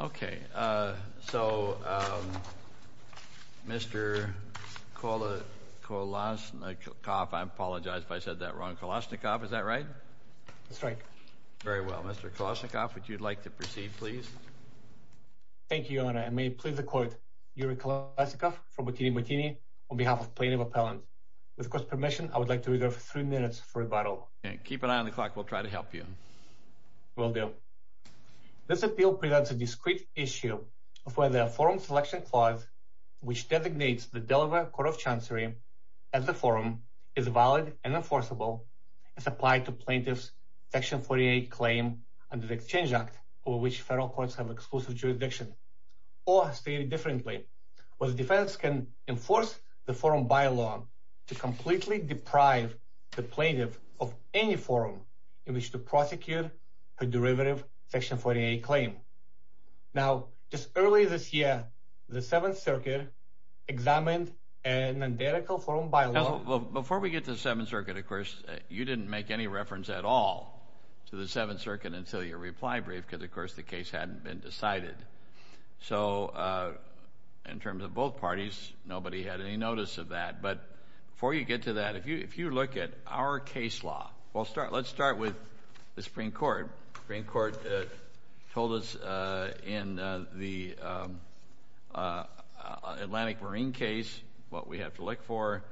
Okay. So, Mr. Kolashnikov, I apologize if I said that wrong. Kolashnikov, is that right? That's right. Very well. Mr. Kolashnikov, would you like to proceed, please? Thank you, Your Honor. And may it please the Court, Yuri Kolashnikov from Botini-Botini, on behalf of Plaintiff Appellant. With the Court's permission, I would like to reserve three minutes for rebuttal. Keep an eye on the clock. We'll try to help you. Will do. This appeal presents a discrete issue of whether a forum selection clause which designates the Delaware Court of Chancery as a forum is valid and enforceable, as applied to plaintiff's Section 48 claim under the Exchange Act, over which federal courts have exclusive jurisdiction. Or, stated differently, whether defendants can enforce the forum by law to completely deprive the plaintiff of any forum in which to prosecute her derivative Section 48 claim. Now, just earlier this year, the Seventh Circuit examined a nondetectable forum by law… So, in terms of both parties, nobody had any notice of that. But before you get to that, if you look at our case law… Well, let's start with the Supreme Court. The Supreme Court told us in the Atlantic Marine case what we have to look for.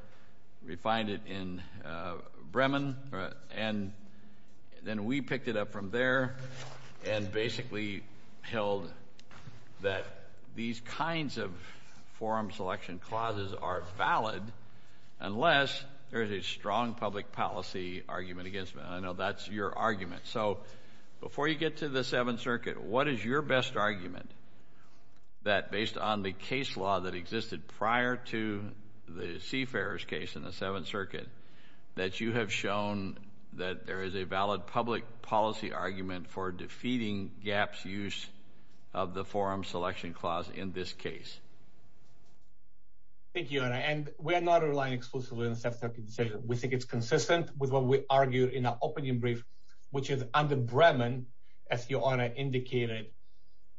We find it in Bremen. And then we picked it up from there and basically held that these kinds of forum selection clauses are valid unless there is a strong public policy argument against them. And I know that's your argument. So, before you get to the Seventh Circuit, what is your best argument that, based on the case law that existed prior to the Seafarer's case in the Seventh Circuit, that you have shown that there is a valid public policy argument for defeating GAP's use of the forum selection clause in this case? Thank you, Honor. And we are not relying exclusively on the Seventh Circuit's decision. We think it's consistent with what we argued in our opening brief, which is, under Bremen, as your Honor indicated,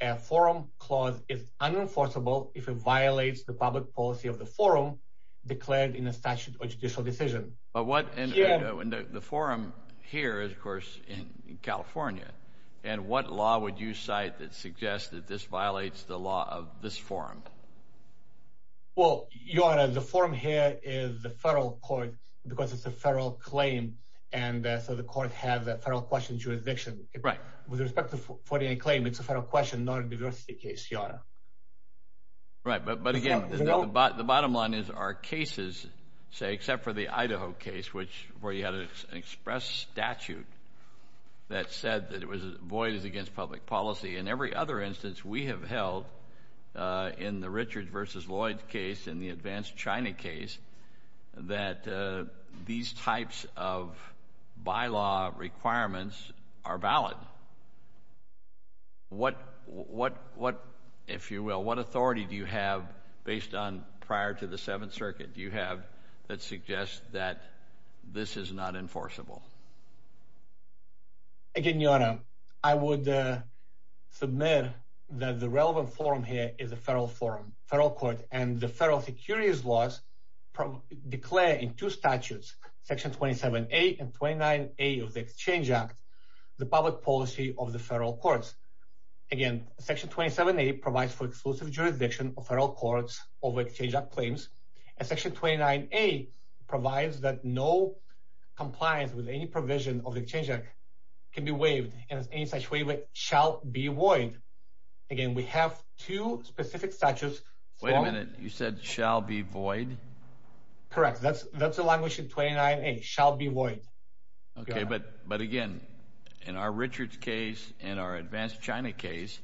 a forum clause is unenforceable if it violates the public policy of the forum declared in a statute or judicial decision. But what – and the forum here is, of course, in California. And what law would you cite that suggests that this violates the law of this forum? Well, your Honor, the forum here is the federal court because it's a federal claim. And so the court has a federal question jurisdiction. Right. With respect to the 49 claim, it's a federal question, not a diversity case, your Honor. Right. But, again, the bottom line is our cases, say, except for the Idaho case, which – where you had an express statute that said that it was void as against public policy. And every other instance we have held in the Richards v. Lloyd case, in the advanced China case, that these types of bylaw requirements are valid. What, if you will, what authority do you have based on prior to the Seventh Circuit do you have that suggests that this is not enforceable? Again, your Honor, I would submit that the relevant forum here is a federal forum, federal court. And the federal securities laws declare in two statutes, Section 27A and 29A of the Exchange Act, the public policy of the federal courts. Again, Section 27A provides for exclusive jurisdiction of federal courts over Exchange Act claims. And Section 29A provides that no compliance with any provision of the Exchange Act can be waived, and any such waiver shall be void. Again, we have two specific statutes. Wait a minute. You said shall be void? Correct. Okay, but again, in our Richards case, in our advanced China case,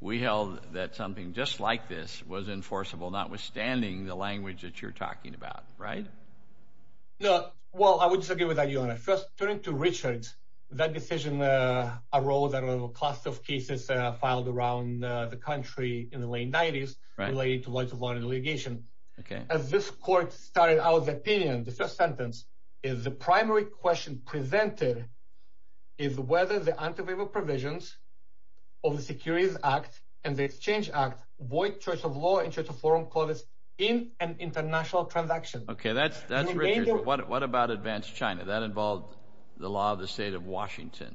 we held that something just like this was enforceable, notwithstanding the language that you're talking about. Right? No. Well, I would disagree with that, Your Honor. First, turning to Richards, that decision arose out of a class of cases filed around the country in the late 90s related to violent litigation. Okay. As this court started out the opinion, the first sentence is the primary question presented is whether the anti-waiver provisions of the Securities Act and the Exchange Act void choice of law and choice of forum clauses in an international transaction. Okay, that's Richards, but what about advanced China? That involved the law of the state of Washington.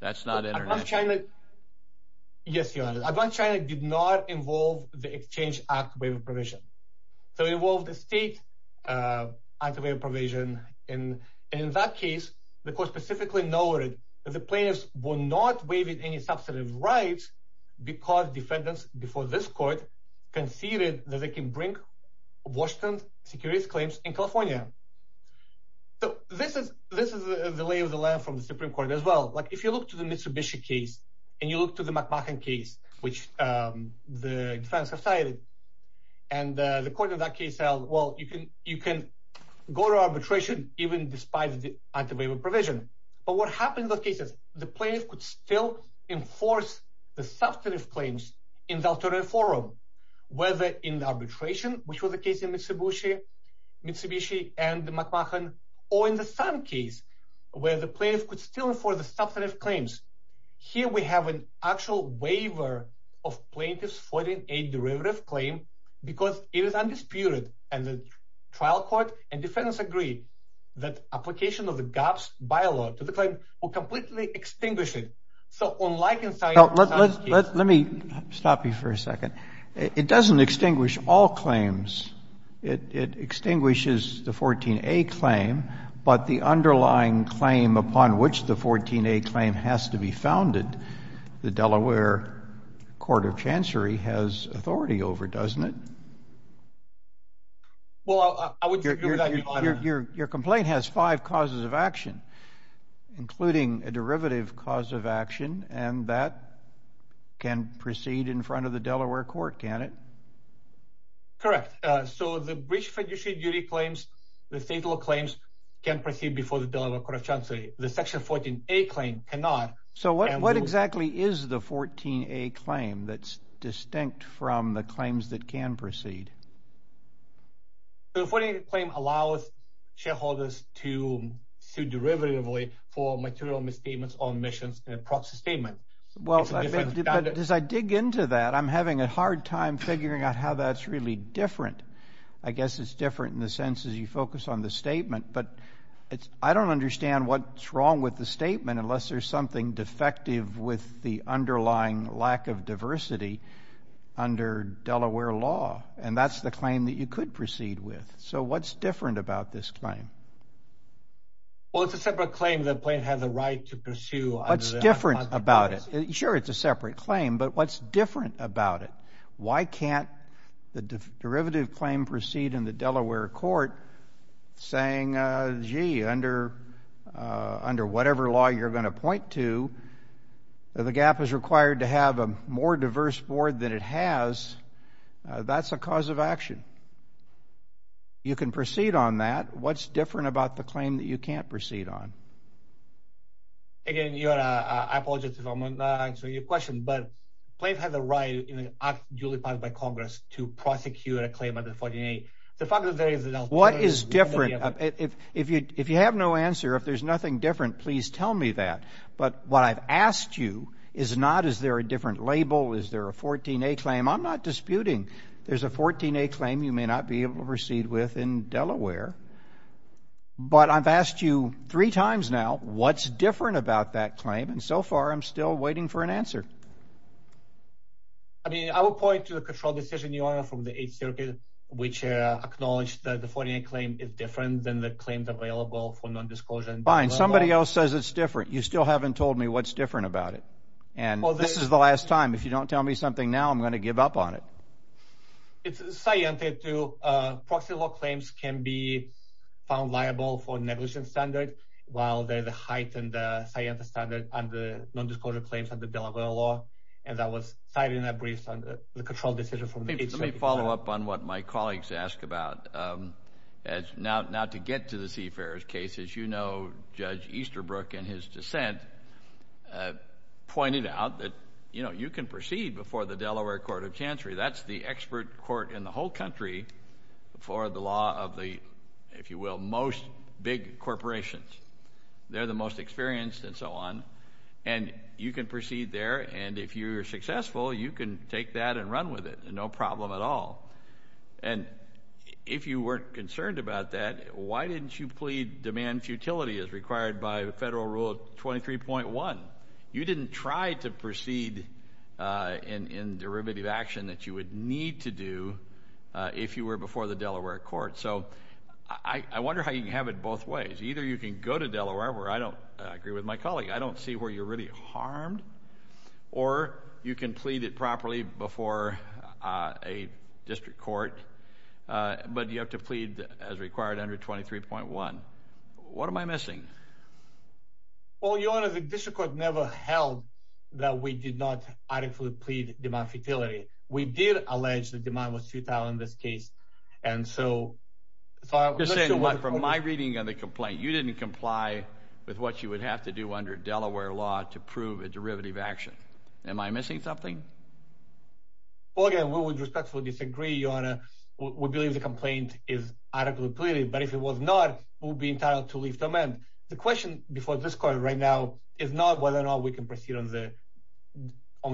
That's not international. Yes, Your Honor. Advanced China did not involve the Exchange Act waiver provision. So it involved the state anti-waiver provision. And in that case, the court specifically noted that the plaintiffs were not waiving any substantive rights because defendants before this court conceded that they can bring Washington's securities claims in California. So this is the lay of the land from the Supreme Court as well. Like if you look to the Mitsubishi case, and you look to the McMahon case, which the defense have cited, and the court in that case held, well, you can go to arbitration, even despite the anti-waiver provision. But what happened in those cases, the plaintiff could still enforce the substantive claims in the alternative forum, whether in the arbitration, which was the case in Mitsubishi and the McMahon, or in the same case, where the plaintiff could still enforce the substantive claims. Here we have an actual waiver of plaintiff's 14a derivative claim because it is undisputed. And the trial court and defendants agree that application of the GUPS bylaw to the claim will completely extinguish it. Let me stop you for a second. It doesn't extinguish all claims. It extinguishes the 14a claim, but the underlying claim upon which the 14a claim has to be founded, the Delaware Court of Chancery has authority over, doesn't it? Your complaint has five causes of action, including a derivative cause of action, and that can proceed in front of the Delaware Court, can't it? Correct. So the breach of fiduciary duty claims, the fatal claims, can proceed before the Delaware Court of Chancery. The section 14a claim cannot. So what exactly is the 14a claim that's distinct from the claims that can proceed? The 14a claim allows shareholders to sue derivatively for material misstatements or omissions in a proxy statement. Well, as I dig into that, I'm having a hard time figuring out how that's really different. I guess it's different in the sense as you focus on the statement, but I don't understand what's wrong with the statement unless there's something defective with the underlying lack of diversity under Delaware law, and that's the claim that you could proceed with. So what's different about this claim? Well, it's a separate claim the plaintiff has a right to pursue. What's different about it? Sure, it's a separate claim, but what's different about it? Why can't the derivative claim proceed in the Delaware Court saying, gee, under whatever law you're going to point to, the GAAP is required to have a more diverse board than it has? That's a cause of action. You can proceed on that. What's different about the claim that you can't proceed on? Again, I apologize if I'm not answering your question, but the plaintiff has a right in an act duly passed by Congress to prosecute a claim under 14A. The fact is there is an alternative. What is different? If you have no answer, if there's nothing different, please tell me that. But what I've asked you is not is there a different label, is there a 14A claim. I'm not disputing there's a 14A claim you may not be able to proceed with in Delaware. But I've asked you three times now, what's different about that claim? And so far, I'm still waiting for an answer. I mean, I will point to the control decision, Your Honor, from the Eighth Circuit, which acknowledged that the 14A claim is different than the claims available for non-disclosure. Fine. Somebody else says it's different. You still haven't told me what's different about it. And this is the last time. If you don't tell me something now, I'm going to give up on it. It's scientific, too. Proxy law claims can be found liable for negligence standard, while there's a heightened scientific standard under non-disclosure claims under Delaware law. And that was cited in a brief on the control decision from the Eighth Circuit. Let me follow up on what my colleagues asked about. Now, to get to the Seafarer's case, as you know, Judge Easterbrook in his dissent pointed out that, you know, you can proceed before the Delaware Court of Chancery. That's the expert court in the whole country for the law of the, if you will, most big corporations. They're the most experienced and so on. And you can proceed there, and if you're successful, you can take that and run with it, no problem at all. And if you weren't concerned about that, why didn't you plead demand futility as required by Federal Rule 23.1? You didn't try to proceed in derivative action that you would need to do if you were before the Delaware Court. So I wonder how you can have it both ways. Either you can go to Delaware, where I don't agree with my colleague. I don't see where you're really harmed, or you can plead it properly before a district court, but you have to plead as required under 23.1. What am I missing? Well, Your Honor, the district court never held that we did not adequately plead demand futility. We did allege that demand was futile in this case, and so— You're saying what? From my reading of the complaint, you didn't comply with what you would have to do under Delaware law to prove a derivative action. Am I missing something? Well, again, we would respectfully disagree, Your Honor. We believe the complaint is adequately pleaded, but if it was not, we would be entitled to leave to amend. The question before this Court right now is not whether or not we can proceed on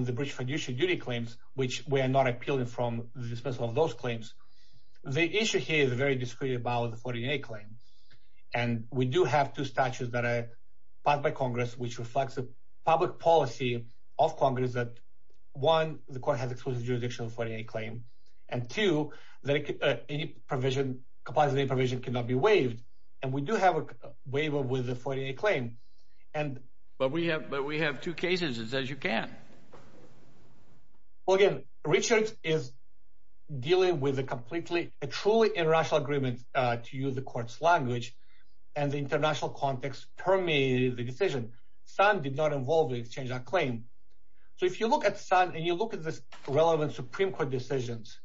the breach of fiduciary duty claims, which we are not appealing from the disposal of those claims. The issue here is very discreet about the 14A claim, and we do have two statutes that are passed by Congress, which reflects the public policy of Congress that, one, the Court has exclusive jurisdiction of the 14A claim, and, two, that any provision—composite provision—cannot be waived, and we do have a waiver with the 14A claim, and— But we have two cases. It says you can't. Well, again, Richard is dealing with a completely—a truly international agreement, to use the Court's language, and the international context permeated the decision. Sun did not involve the exchange on claim. So if you look at Sun and you look at the relevant Supreme Court decisions,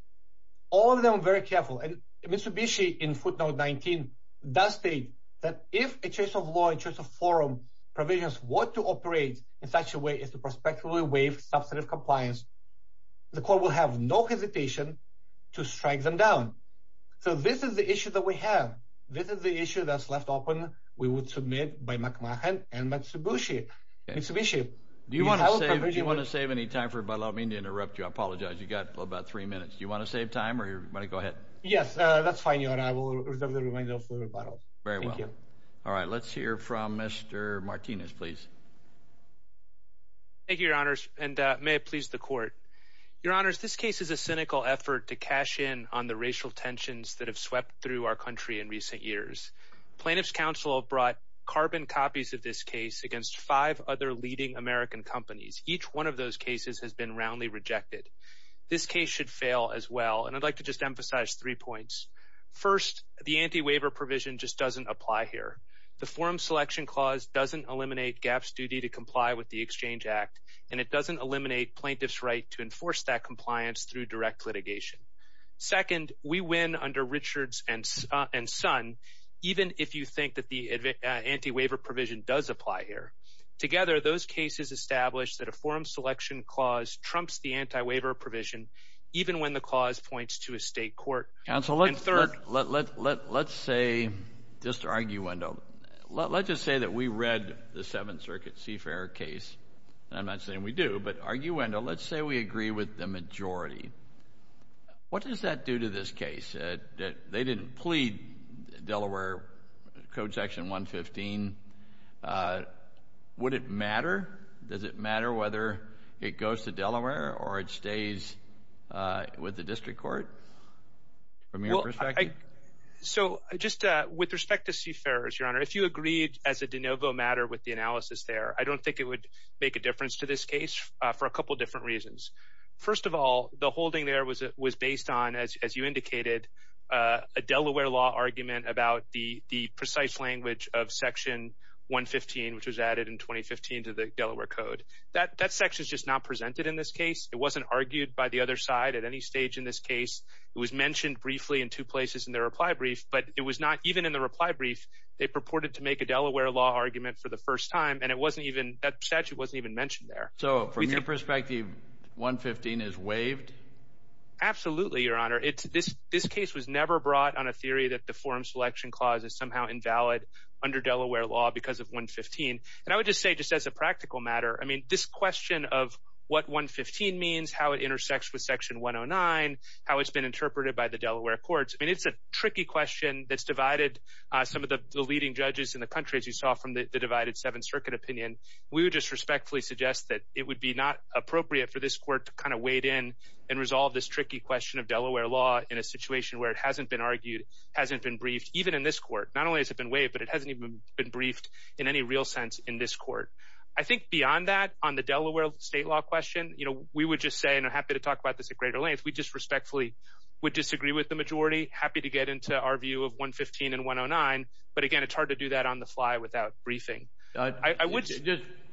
all of them are very careful. And Mitsubishi, in footnote 19, does state that if a choice of law, a choice of forum provisions were to operate in such a way as to prospectively waive substantive compliance, the Court will have no hesitation to strike them down. So this is the issue that we have. This is the issue that's left open. We would submit by McMahon and Mitsubishi. Mitsubishi, do you want to— Do you want to save any time for—by allowing me to interrupt you? I apologize. You've got about three minutes. Do you want to save time, or do you want to go ahead? Yes, that's fine, Your Honor. I will reserve the remainder of the rebuttal. Very well. Thank you. All right, let's hear from Mr. Martinez, please. Thank you, Your Honors, and may it please the Court. Your Honors, this case is a cynical effort to cash in on the racial tensions that have swept through our country in recent years. Plaintiffs' counsel have brought carbon copies of this case against five other leading American companies. Each one of those cases has been roundly rejected. This case should fail as well, and I'd like to just emphasize three points. First, the anti-waiver provision just doesn't apply here. The Forum Selection Clause doesn't eliminate GAAP's duty to comply with the Exchange Act, and it doesn't eliminate plaintiffs' right to enforce that compliance through direct litigation. Second, we win under Richards and Son, even if you think that the anti-waiver provision does apply here. Together, those cases establish that a Forum Selection Clause trumps the anti-waiver provision, even when the clause points to a state court. Counsel, let's say, just arguendo, let's just say that we read the Seventh Circuit CFAIR case. I'm not saying we do, but arguendo, let's say we agree with the majority. What does that do to this case? They didn't plead Delaware Code Section 115. Would it matter? Does it matter whether it goes to Delaware or it stays with the district court from your perspective? So just with respect to CFAIRs, Your Honor, if you agreed as a de novo matter with the analysis there, I don't think it would make a difference to this case for a couple different reasons. First of all, the holding there was based on, as you indicated, a Delaware law argument about the precise language of Section 115, which was added in 2015 to the Delaware Code. That section is just not presented in this case. It wasn't argued by the other side at any stage in this case. It was mentioned briefly in two places in their reply brief, but it was not even in the reply brief. They purported to make a Delaware law argument for the first time, and that statute wasn't even mentioned there. So from your perspective, 115 is waived? Absolutely, Your Honor. This case was never brought on a theory that the forum selection clause is somehow invalid under Delaware law because of 115. And I would just say, just as a practical matter, I mean, this question of what 115 means, how it intersects with Section 109, how it's been interpreted by the Delaware courts, I mean, it's a tricky question that's divided some of the leading judges in the country, as you saw from the divided Seventh Circuit opinion. We would just respectfully suggest that it would be not appropriate for this court to kind of wade in and resolve this tricky question of Delaware law in a situation where it hasn't been argued, hasn't been briefed, even in this court. Not only has it been waived, but it hasn't even been briefed in any real sense in this court. I think beyond that, on the Delaware state law question, you know, we would just say, and I'm happy to talk about this at greater length, we just respectfully would disagree with the majority, happy to get into our view of 115 and 109, but again, it's hard to do that on the fly without briefing.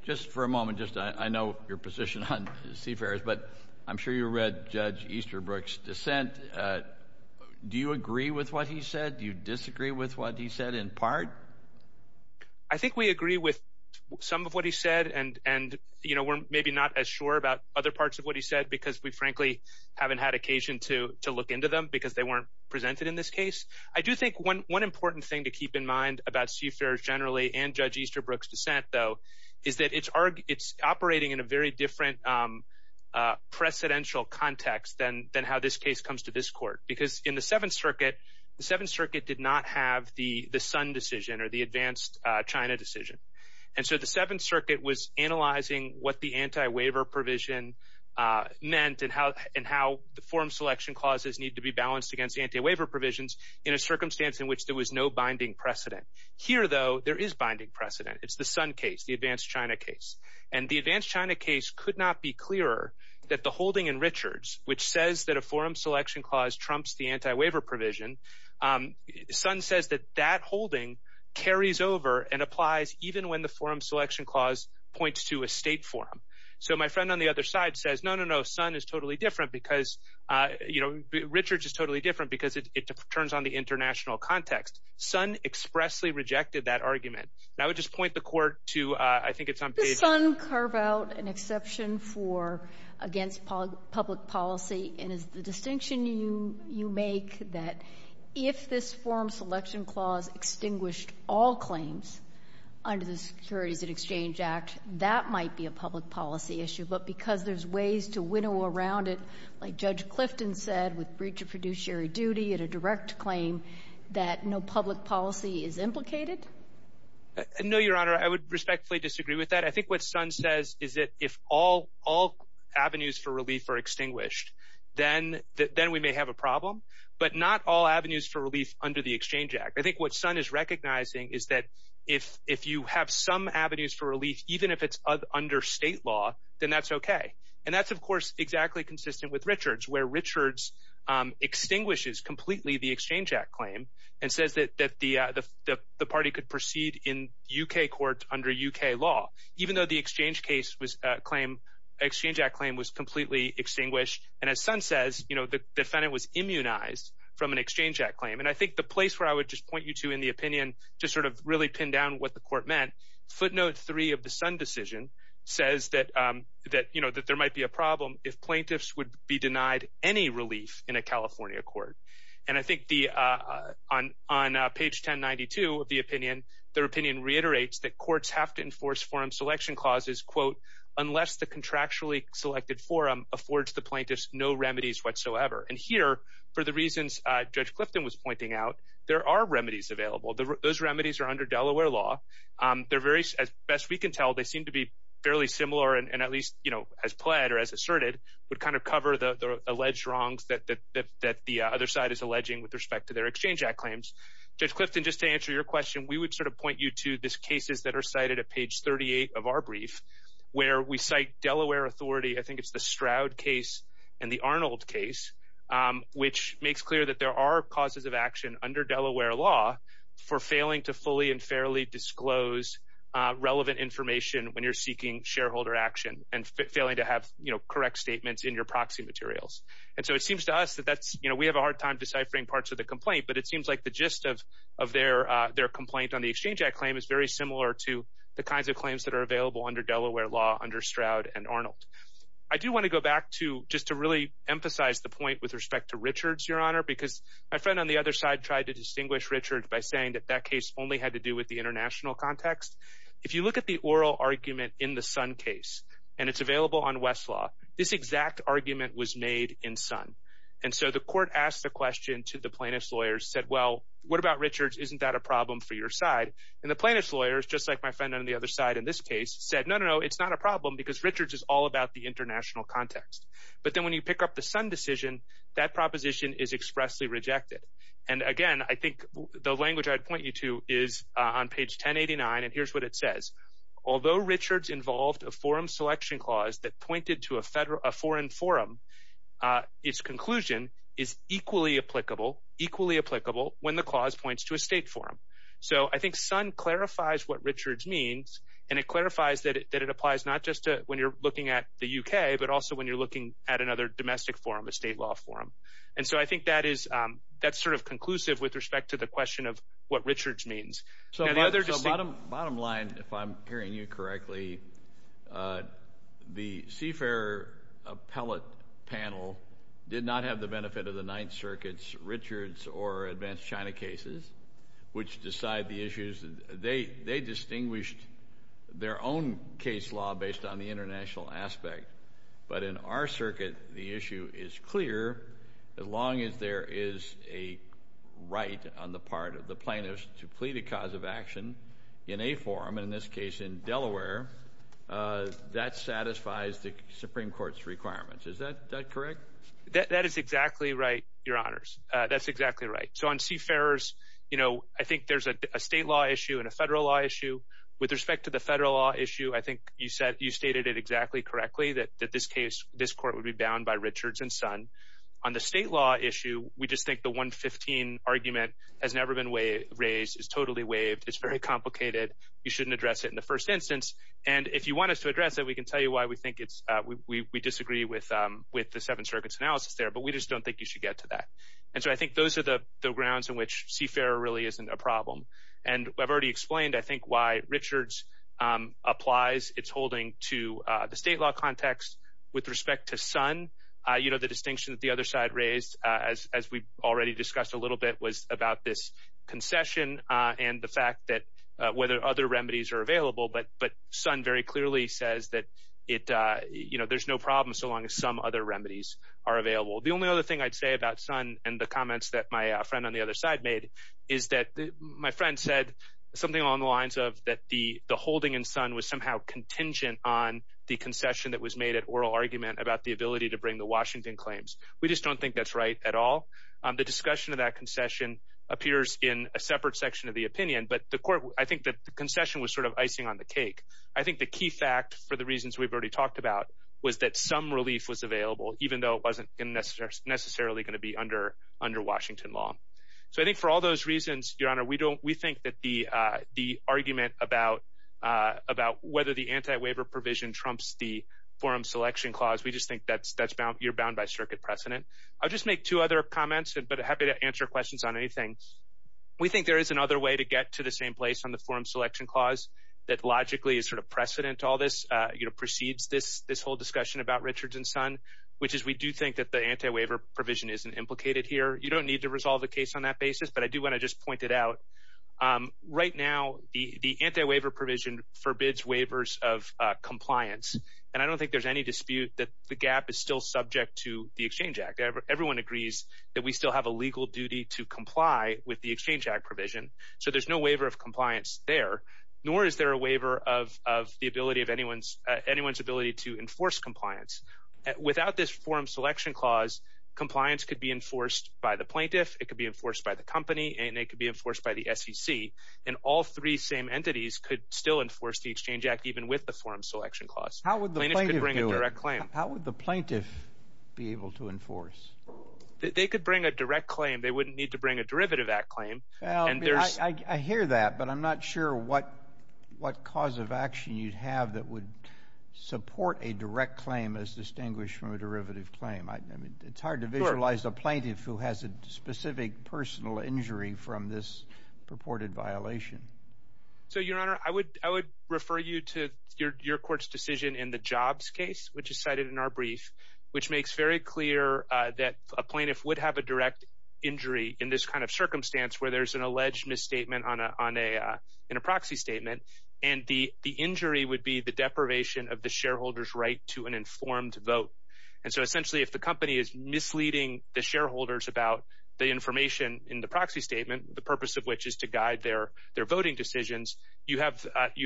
Just for a moment, I know your position on Seafarers, but I'm sure you read Judge Easterbrook's dissent. Do you agree with what he said? Do you disagree with what he said in part? I think we agree with some of what he said, and we're maybe not as sure about other parts of what he said because we frankly haven't had occasion to look into them because they weren't presented in this case. I do think one important thing to keep in mind about Seafarers generally and Judge Easterbrook's dissent, though, is that it's operating in a very different precedential context than how this case comes to this court because in the Seventh Circuit, the Seventh Circuit did not have the Sun decision or the advanced China decision, and so the Seventh Circuit was analyzing what the anti-waiver provision meant and how the forum selection clauses need to be balanced against anti-waiver provisions in a circumstance in which there was no binding precedent. Here, though, there is binding precedent. It's the Sun case, the advanced China case, and the advanced China case could not be clearer that the holding in Richards, which says that a forum selection clause trumps the anti-waiver provision, Sun says that that holding carries over and applies even when the forum selection clause points to a state forum. So my friend on the other side says, no, no, no, Sun is totally different because, you know, Richards is totally different because it turns on the international context. Sun expressly rejected that argument. And I would just point the court to, I think it's on page— Does Sun carve out an exception for against public policy? And is the distinction you make that if this forum selection clause extinguished all claims under the Securities and Exchange Act, that might be a public policy issue, but because there's ways to winnow around it, like Judge Clifton said, with breach of fiduciary duty and a direct claim, that no public policy is implicated? No, Your Honor, I would respectfully disagree with that. I think what Sun says is that if all avenues for relief are extinguished, then we may have a problem, but not all avenues for relief under the Exchange Act. I think what Sun is recognizing is that if you have some avenues for relief, even if it's under state law, then that's okay. And that's, of course, exactly consistent with Richards, where Richards extinguishes completely the Exchange Act claim and says that the party could proceed in U.K. court under U.K. law, even though the Exchange Act claim was completely extinguished. And as Sun says, you know, the defendant was immunized from an Exchange Act claim. And I think the place where I would just point you to in the opinion, just sort of really pin down what the court meant, footnote three of the Sun decision says that, you know, that there might be a problem if plaintiffs would be denied any relief in a California court. And I think on page 1092 of the opinion, their opinion reiterates that courts have to enforce forum selection clauses, quote, unless the contractually selected forum affords the plaintiffs no remedies whatsoever. And here, for the reasons Judge Clifton was pointing out, there are remedies available. Those remedies are under Delaware law. As best we can tell, they seem to be fairly similar and at least, you know, as pled or as asserted, would kind of cover the alleged wrongs that the other side is alleging with respect to their Exchange Act claims. Judge Clifton, just to answer your question, we would sort of point you to these cases that are cited at page 38 of our brief, where we cite Delaware authority. I think it's the Stroud case and the Arnold case, which makes clear that there are causes of action under Delaware law for failing to fully and fairly disclose relevant information when you're seeking shareholder action and failing to have, you know, correct statements in your proxy materials. And so it seems to us that that's, you know, we have a hard time deciphering parts of the complaint, but it seems like the gist of their complaint on the Exchange Act claim is very similar to the kinds of claims that are available under Delaware law under Stroud and Arnold. I do want to go back to just to really emphasize the point with respect to Richards, Your Honor, because my friend on the other side tried to distinguish Richards by saying that that case only had to do with the international context. If you look at the oral argument in the Sun case, and it's available on Westlaw, this exact argument was made in Sun. And so the court asked the question to the plaintiff's lawyers, said, well, what about Richards? Isn't that a problem for your side? And the plaintiff's lawyers, just like my friend on the other side in this case, said, no, no, no, it's not a problem because Richards is all about the international context. But then when you pick up the Sun decision, that proposition is expressly rejected. And, again, I think the language I'd point you to is on page 1089, and here's what it says. Although Richards involved a forum selection clause that pointed to a foreign forum, its conclusion is equally applicable when the clause points to a state forum. So I think Sun clarifies what Richards means, and it clarifies that it applies not just when you're looking at the U.K., but also when you're looking at another domestic forum, a state law forum. And so I think that is sort of conclusive with respect to the question of what Richards means. So bottom line, if I'm hearing you correctly, the CFER appellate panel did not have the benefit of the Ninth Circuit's Richards or Advanced China cases, which decide the issues. They distinguished their own case law based on the international aspect. But in our circuit, the issue is clear. As long as there is a right on the part of the plaintiffs to plead a cause of action in a forum, and in this case in Delaware, that satisfies the Supreme Court's requirements. Is that correct? That is exactly right, Your Honors. That's exactly right. So on CFERs, you know, I think there's a state law issue and a federal law issue. With respect to the federal law issue, I think you stated it exactly correctly, that this case, this court would be bound by Richards and Sun. On the state law issue, we just think the 115 argument has never been raised. It's totally waived. It's very complicated. You shouldn't address it in the first instance. And if you want us to address it, we can tell you why we think it's – we disagree with the Seventh Circuit's analysis there, but we just don't think you should get to that. And so I think those are the grounds in which CFER really isn't a problem. And I've already explained, I think, why Richards applies its holding to the state law context. With respect to Sun, you know, the distinction that the other side raised, as we've already discussed a little bit, was about this concession and the fact that whether other remedies are available. But Sun very clearly says that, you know, there's no problem so long as some other remedies are available. The only other thing I'd say about Sun and the comments that my friend on the other side made is that my friend said something along the lines of that the holding in Sun was somehow contingent on the concession that was made at oral argument about the ability to bring the Washington claims. We just don't think that's right at all. The discussion of that concession appears in a separate section of the opinion, but I think the concession was sort of icing on the cake. I think the key fact for the reasons we've already talked about was that some relief was available, even though it wasn't necessarily going to be under Washington law. So I think for all those reasons, Your Honor, we think that the argument about whether the anti-waiver provision trumps the forum selection clause, we just think that you're bound by circuit precedent. I'll just make two other comments, but happy to answer questions on anything. We think there is another way to get to the same place on the forum selection clause that logically is sort of precedent to all this, you know, precedes this whole discussion about Richards and Sun, which is we do think that the anti-waiver provision isn't implicated here. You don't need to resolve the case on that basis, but I do want to just point it out. Right now, the anti-waiver provision forbids waivers of compliance, and I don't think there's any dispute that the gap is still subject to the Exchange Act. Everyone agrees that we still have a legal duty to comply with the Exchange Act provision, so there's no waiver of compliance there, nor is there a waiver of anyone's ability to enforce compliance. Without this forum selection clause, compliance could be enforced by the plaintiff, it could be enforced by the company, and it could be enforced by the SEC, and all three same entities could still enforce the Exchange Act even with the forum selection clause. Plaintiffs could bring a direct claim. How would the plaintiff be able to enforce? They could bring a direct claim. They wouldn't need to bring a Derivative Act claim. I hear that, but I'm not sure what cause of action you'd have that would support a direct claim as distinguished from a derivative claim. It's hard to visualize a plaintiff who has a specific personal injury from this purported violation. Your Honor, I would refer you to your court's decision in the Jobs case, which is cited in our brief, which makes very clear that a plaintiff would have a direct injury in this kind of circumstance where there's an alleged misstatement in a proxy statement, and the injury would be the deprivation of the shareholder's right to an informed vote. Essentially, if the company is misleading the shareholders about the information in the proxy statement, the purpose of which is to guide their voting decisions, you have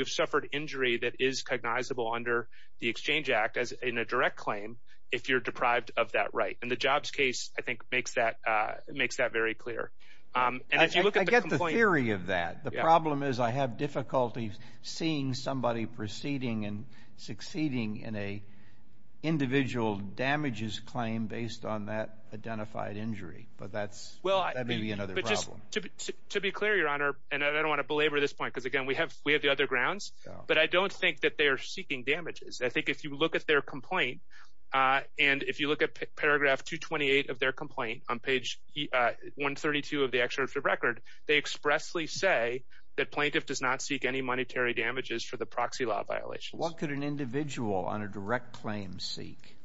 suffered injury that is cognizable under the Exchange Act in a direct claim if you're deprived of that right, and the Jobs case, I think, makes that very clear. I get the theory of that. The problem is I have difficulty seeing somebody proceeding and succeeding in an individual damages claim based on that identified injury, but that may be another problem. To be clear, Your Honor, and I don't want to belabor this point because, again, we have the other grounds, but I don't think that they are seeking damages. I think if you look at their complaint, and if you look at paragraph 228 of their complaint on page 132 of the excerpt of the record, they expressly say that plaintiff does not seek any monetary damages for the proxy law violations. What could an individual on a direct claim seek?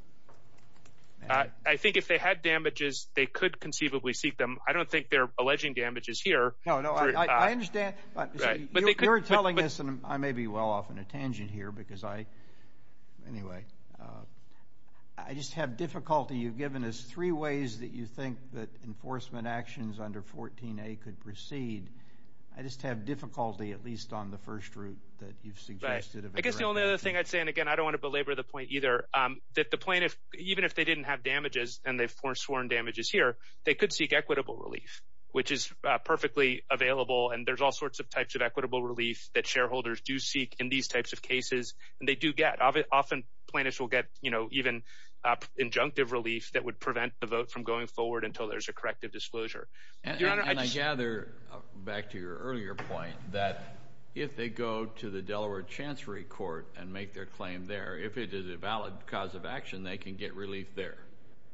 I think if they had damages, they could conceivably seek them. I don't think they're alleging damages here. No, no, I understand. You're telling us, and I may be well off on a tangent here because I, anyway, I just have difficulty. You've given us three ways that you think that enforcement actions under 14A could proceed. I just have difficulty, at least on the first route that you've suggested. I guess the only other thing I'd say, and, again, I don't want to belabor the point either, that the plaintiff, even if they didn't have damages and they've sworn damages here, they could seek equitable relief, which is perfectly available, and there's all sorts of types of equitable relief that shareholders do seek in these types of cases, and they do get. Often plaintiffs will get even injunctive relief that would prevent the vote from going forward until there's a corrective disclosure. And I gather, back to your earlier point, that if they go to the Delaware Chancery Court and make their claim there, if it is a valid cause of action, they can get relief there,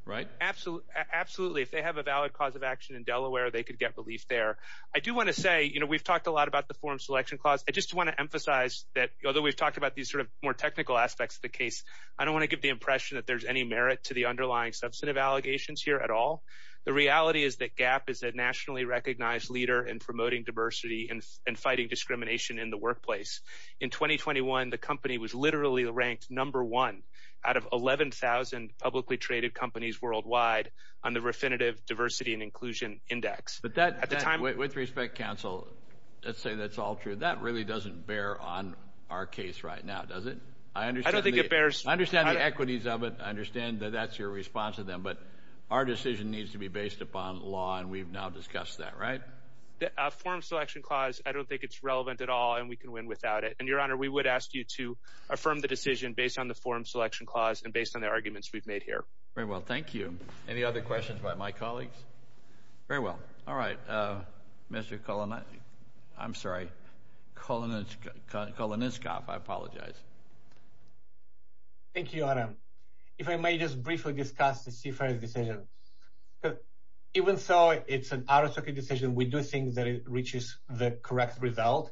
right? Absolutely. If they have a valid cause of action in Delaware, they could get relief there. I do want to say, you know, we've talked a lot about the form selection clause. I just want to emphasize that although we've talked about these sort of more technical aspects of the case, I don't want to give the impression that there's any merit to the underlying substantive allegations here at all. The reality is that GAAP is a nationally recognized leader in promoting diversity and fighting discrimination in the workplace. In 2021, the company was literally ranked number one out of 11,000 publicly traded companies worldwide on the Refinitiv Diversity and Inclusion Index. With respect, counsel, let's say that's all true. That really doesn't bear on our case right now, does it? I don't think it bears. I understand the equities of it. I understand that that's your response to them. But our decision needs to be based upon law, and we've now discussed that, right? The form selection clause, I don't think it's relevant at all, and we can win without it. And, Your Honor, we would ask you to affirm the decision based on the form selection clause and based on the arguments we've made here. Very well. Thank you. Any other questions by my colleagues? Very well. All right. Mr. Koloniskoff, I apologize. Thank you, Your Honor. If I may just briefly discuss the CFRS decision. Even so, it's an out-of-socket decision. We do think that it reaches the correct result,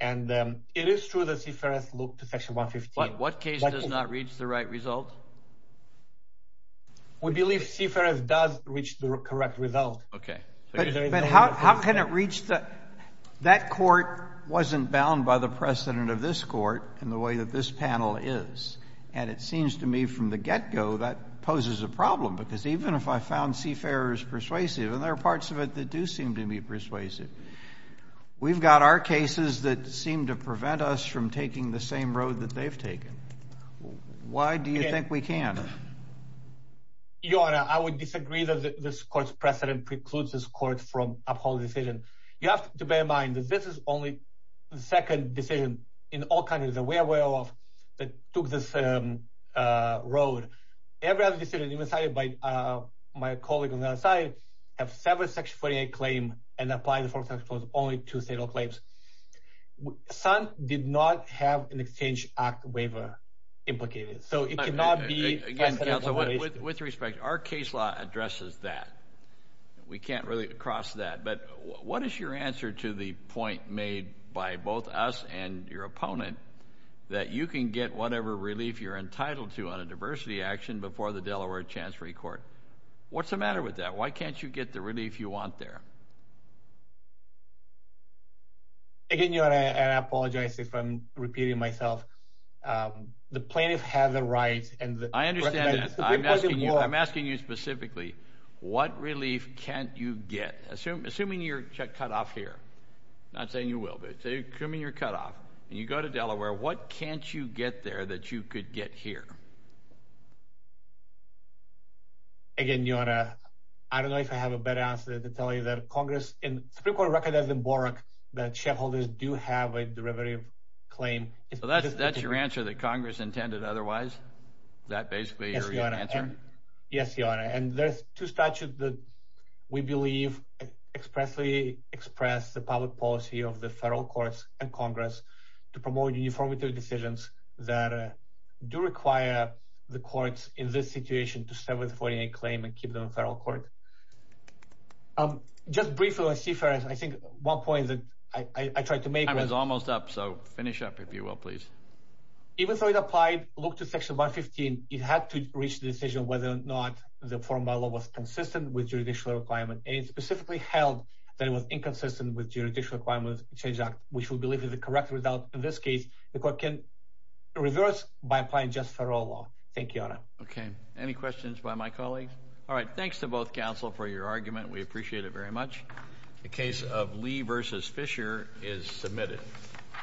and it is true that CFRS looked to Section 115. What case does not reach the right result? We believe CFRS does reach the correct result. Okay. But how can it reach the – that court wasn't bound by the precedent of this court in the way that this panel is. And it seems to me from the get-go that poses a problem because even if I found CFRS persuasive, and there are parts of it that do seem to be persuasive, we've got our cases that seem to prevent us from taking the same road that they've taken. Why do you think we can't? Your Honor, I would disagree that this court's precedent precludes this court from upholding the decision. You have to bear in mind that this is only the second decision in all countries that we are aware of that took this road. Every other decision, even cited by my colleague on the other side, have several Section 48 claims and apply the Fourth Section Clause, only two state claims. Some did not have an Exchange Act waiver implicated. So it cannot be – Again, Counselor, with respect, our case law addresses that. We can't really cross that. But what is your answer to the point made by both us and your opponent that you can get whatever relief you're entitled to on a diversity action before the Delaware Chancery Court? What's the matter with that? Why can't you get the relief you want there? Again, Your Honor, I apologize if I'm repeating myself. The plaintiffs have the right and the – I understand that. I'm asking you specifically, what relief can't you get? Assuming you're cut off here – I'm not saying you will, but assuming you're cut off and you go to Delaware, what can't you get there that you could get here? Again, Your Honor, I don't know if I have a better answer to tell you that Congress – the Supreme Court recognized in Borak that shareholders do have a derivative claim. So that's your answer that Congress intended otherwise? That basically is your answer? Yes, Your Honor. And there's two statutes that we believe expressly express the public policy of the federal courts and Congress to promote uniformity of decisions that do require the courts in this situation to start with a 49 claim and keep them in federal court. Just briefly on CFRS, I think one point that I tried to make was – finish up, if you will, please. Even though it applied, look to Section 115. It had to reach the decision whether or not the formal law was consistent with judicial requirement. And it specifically held that it was inconsistent with Judicial Requirements Change Act, which we believe is the correct result. In this case, the court can reverse by applying just federal law. Thank you, Your Honor. Okay. Any questions by my colleagues? All right. Thanks to both counsel for your argument. We appreciate it very much. The case of Lee v. Fisher is submitted.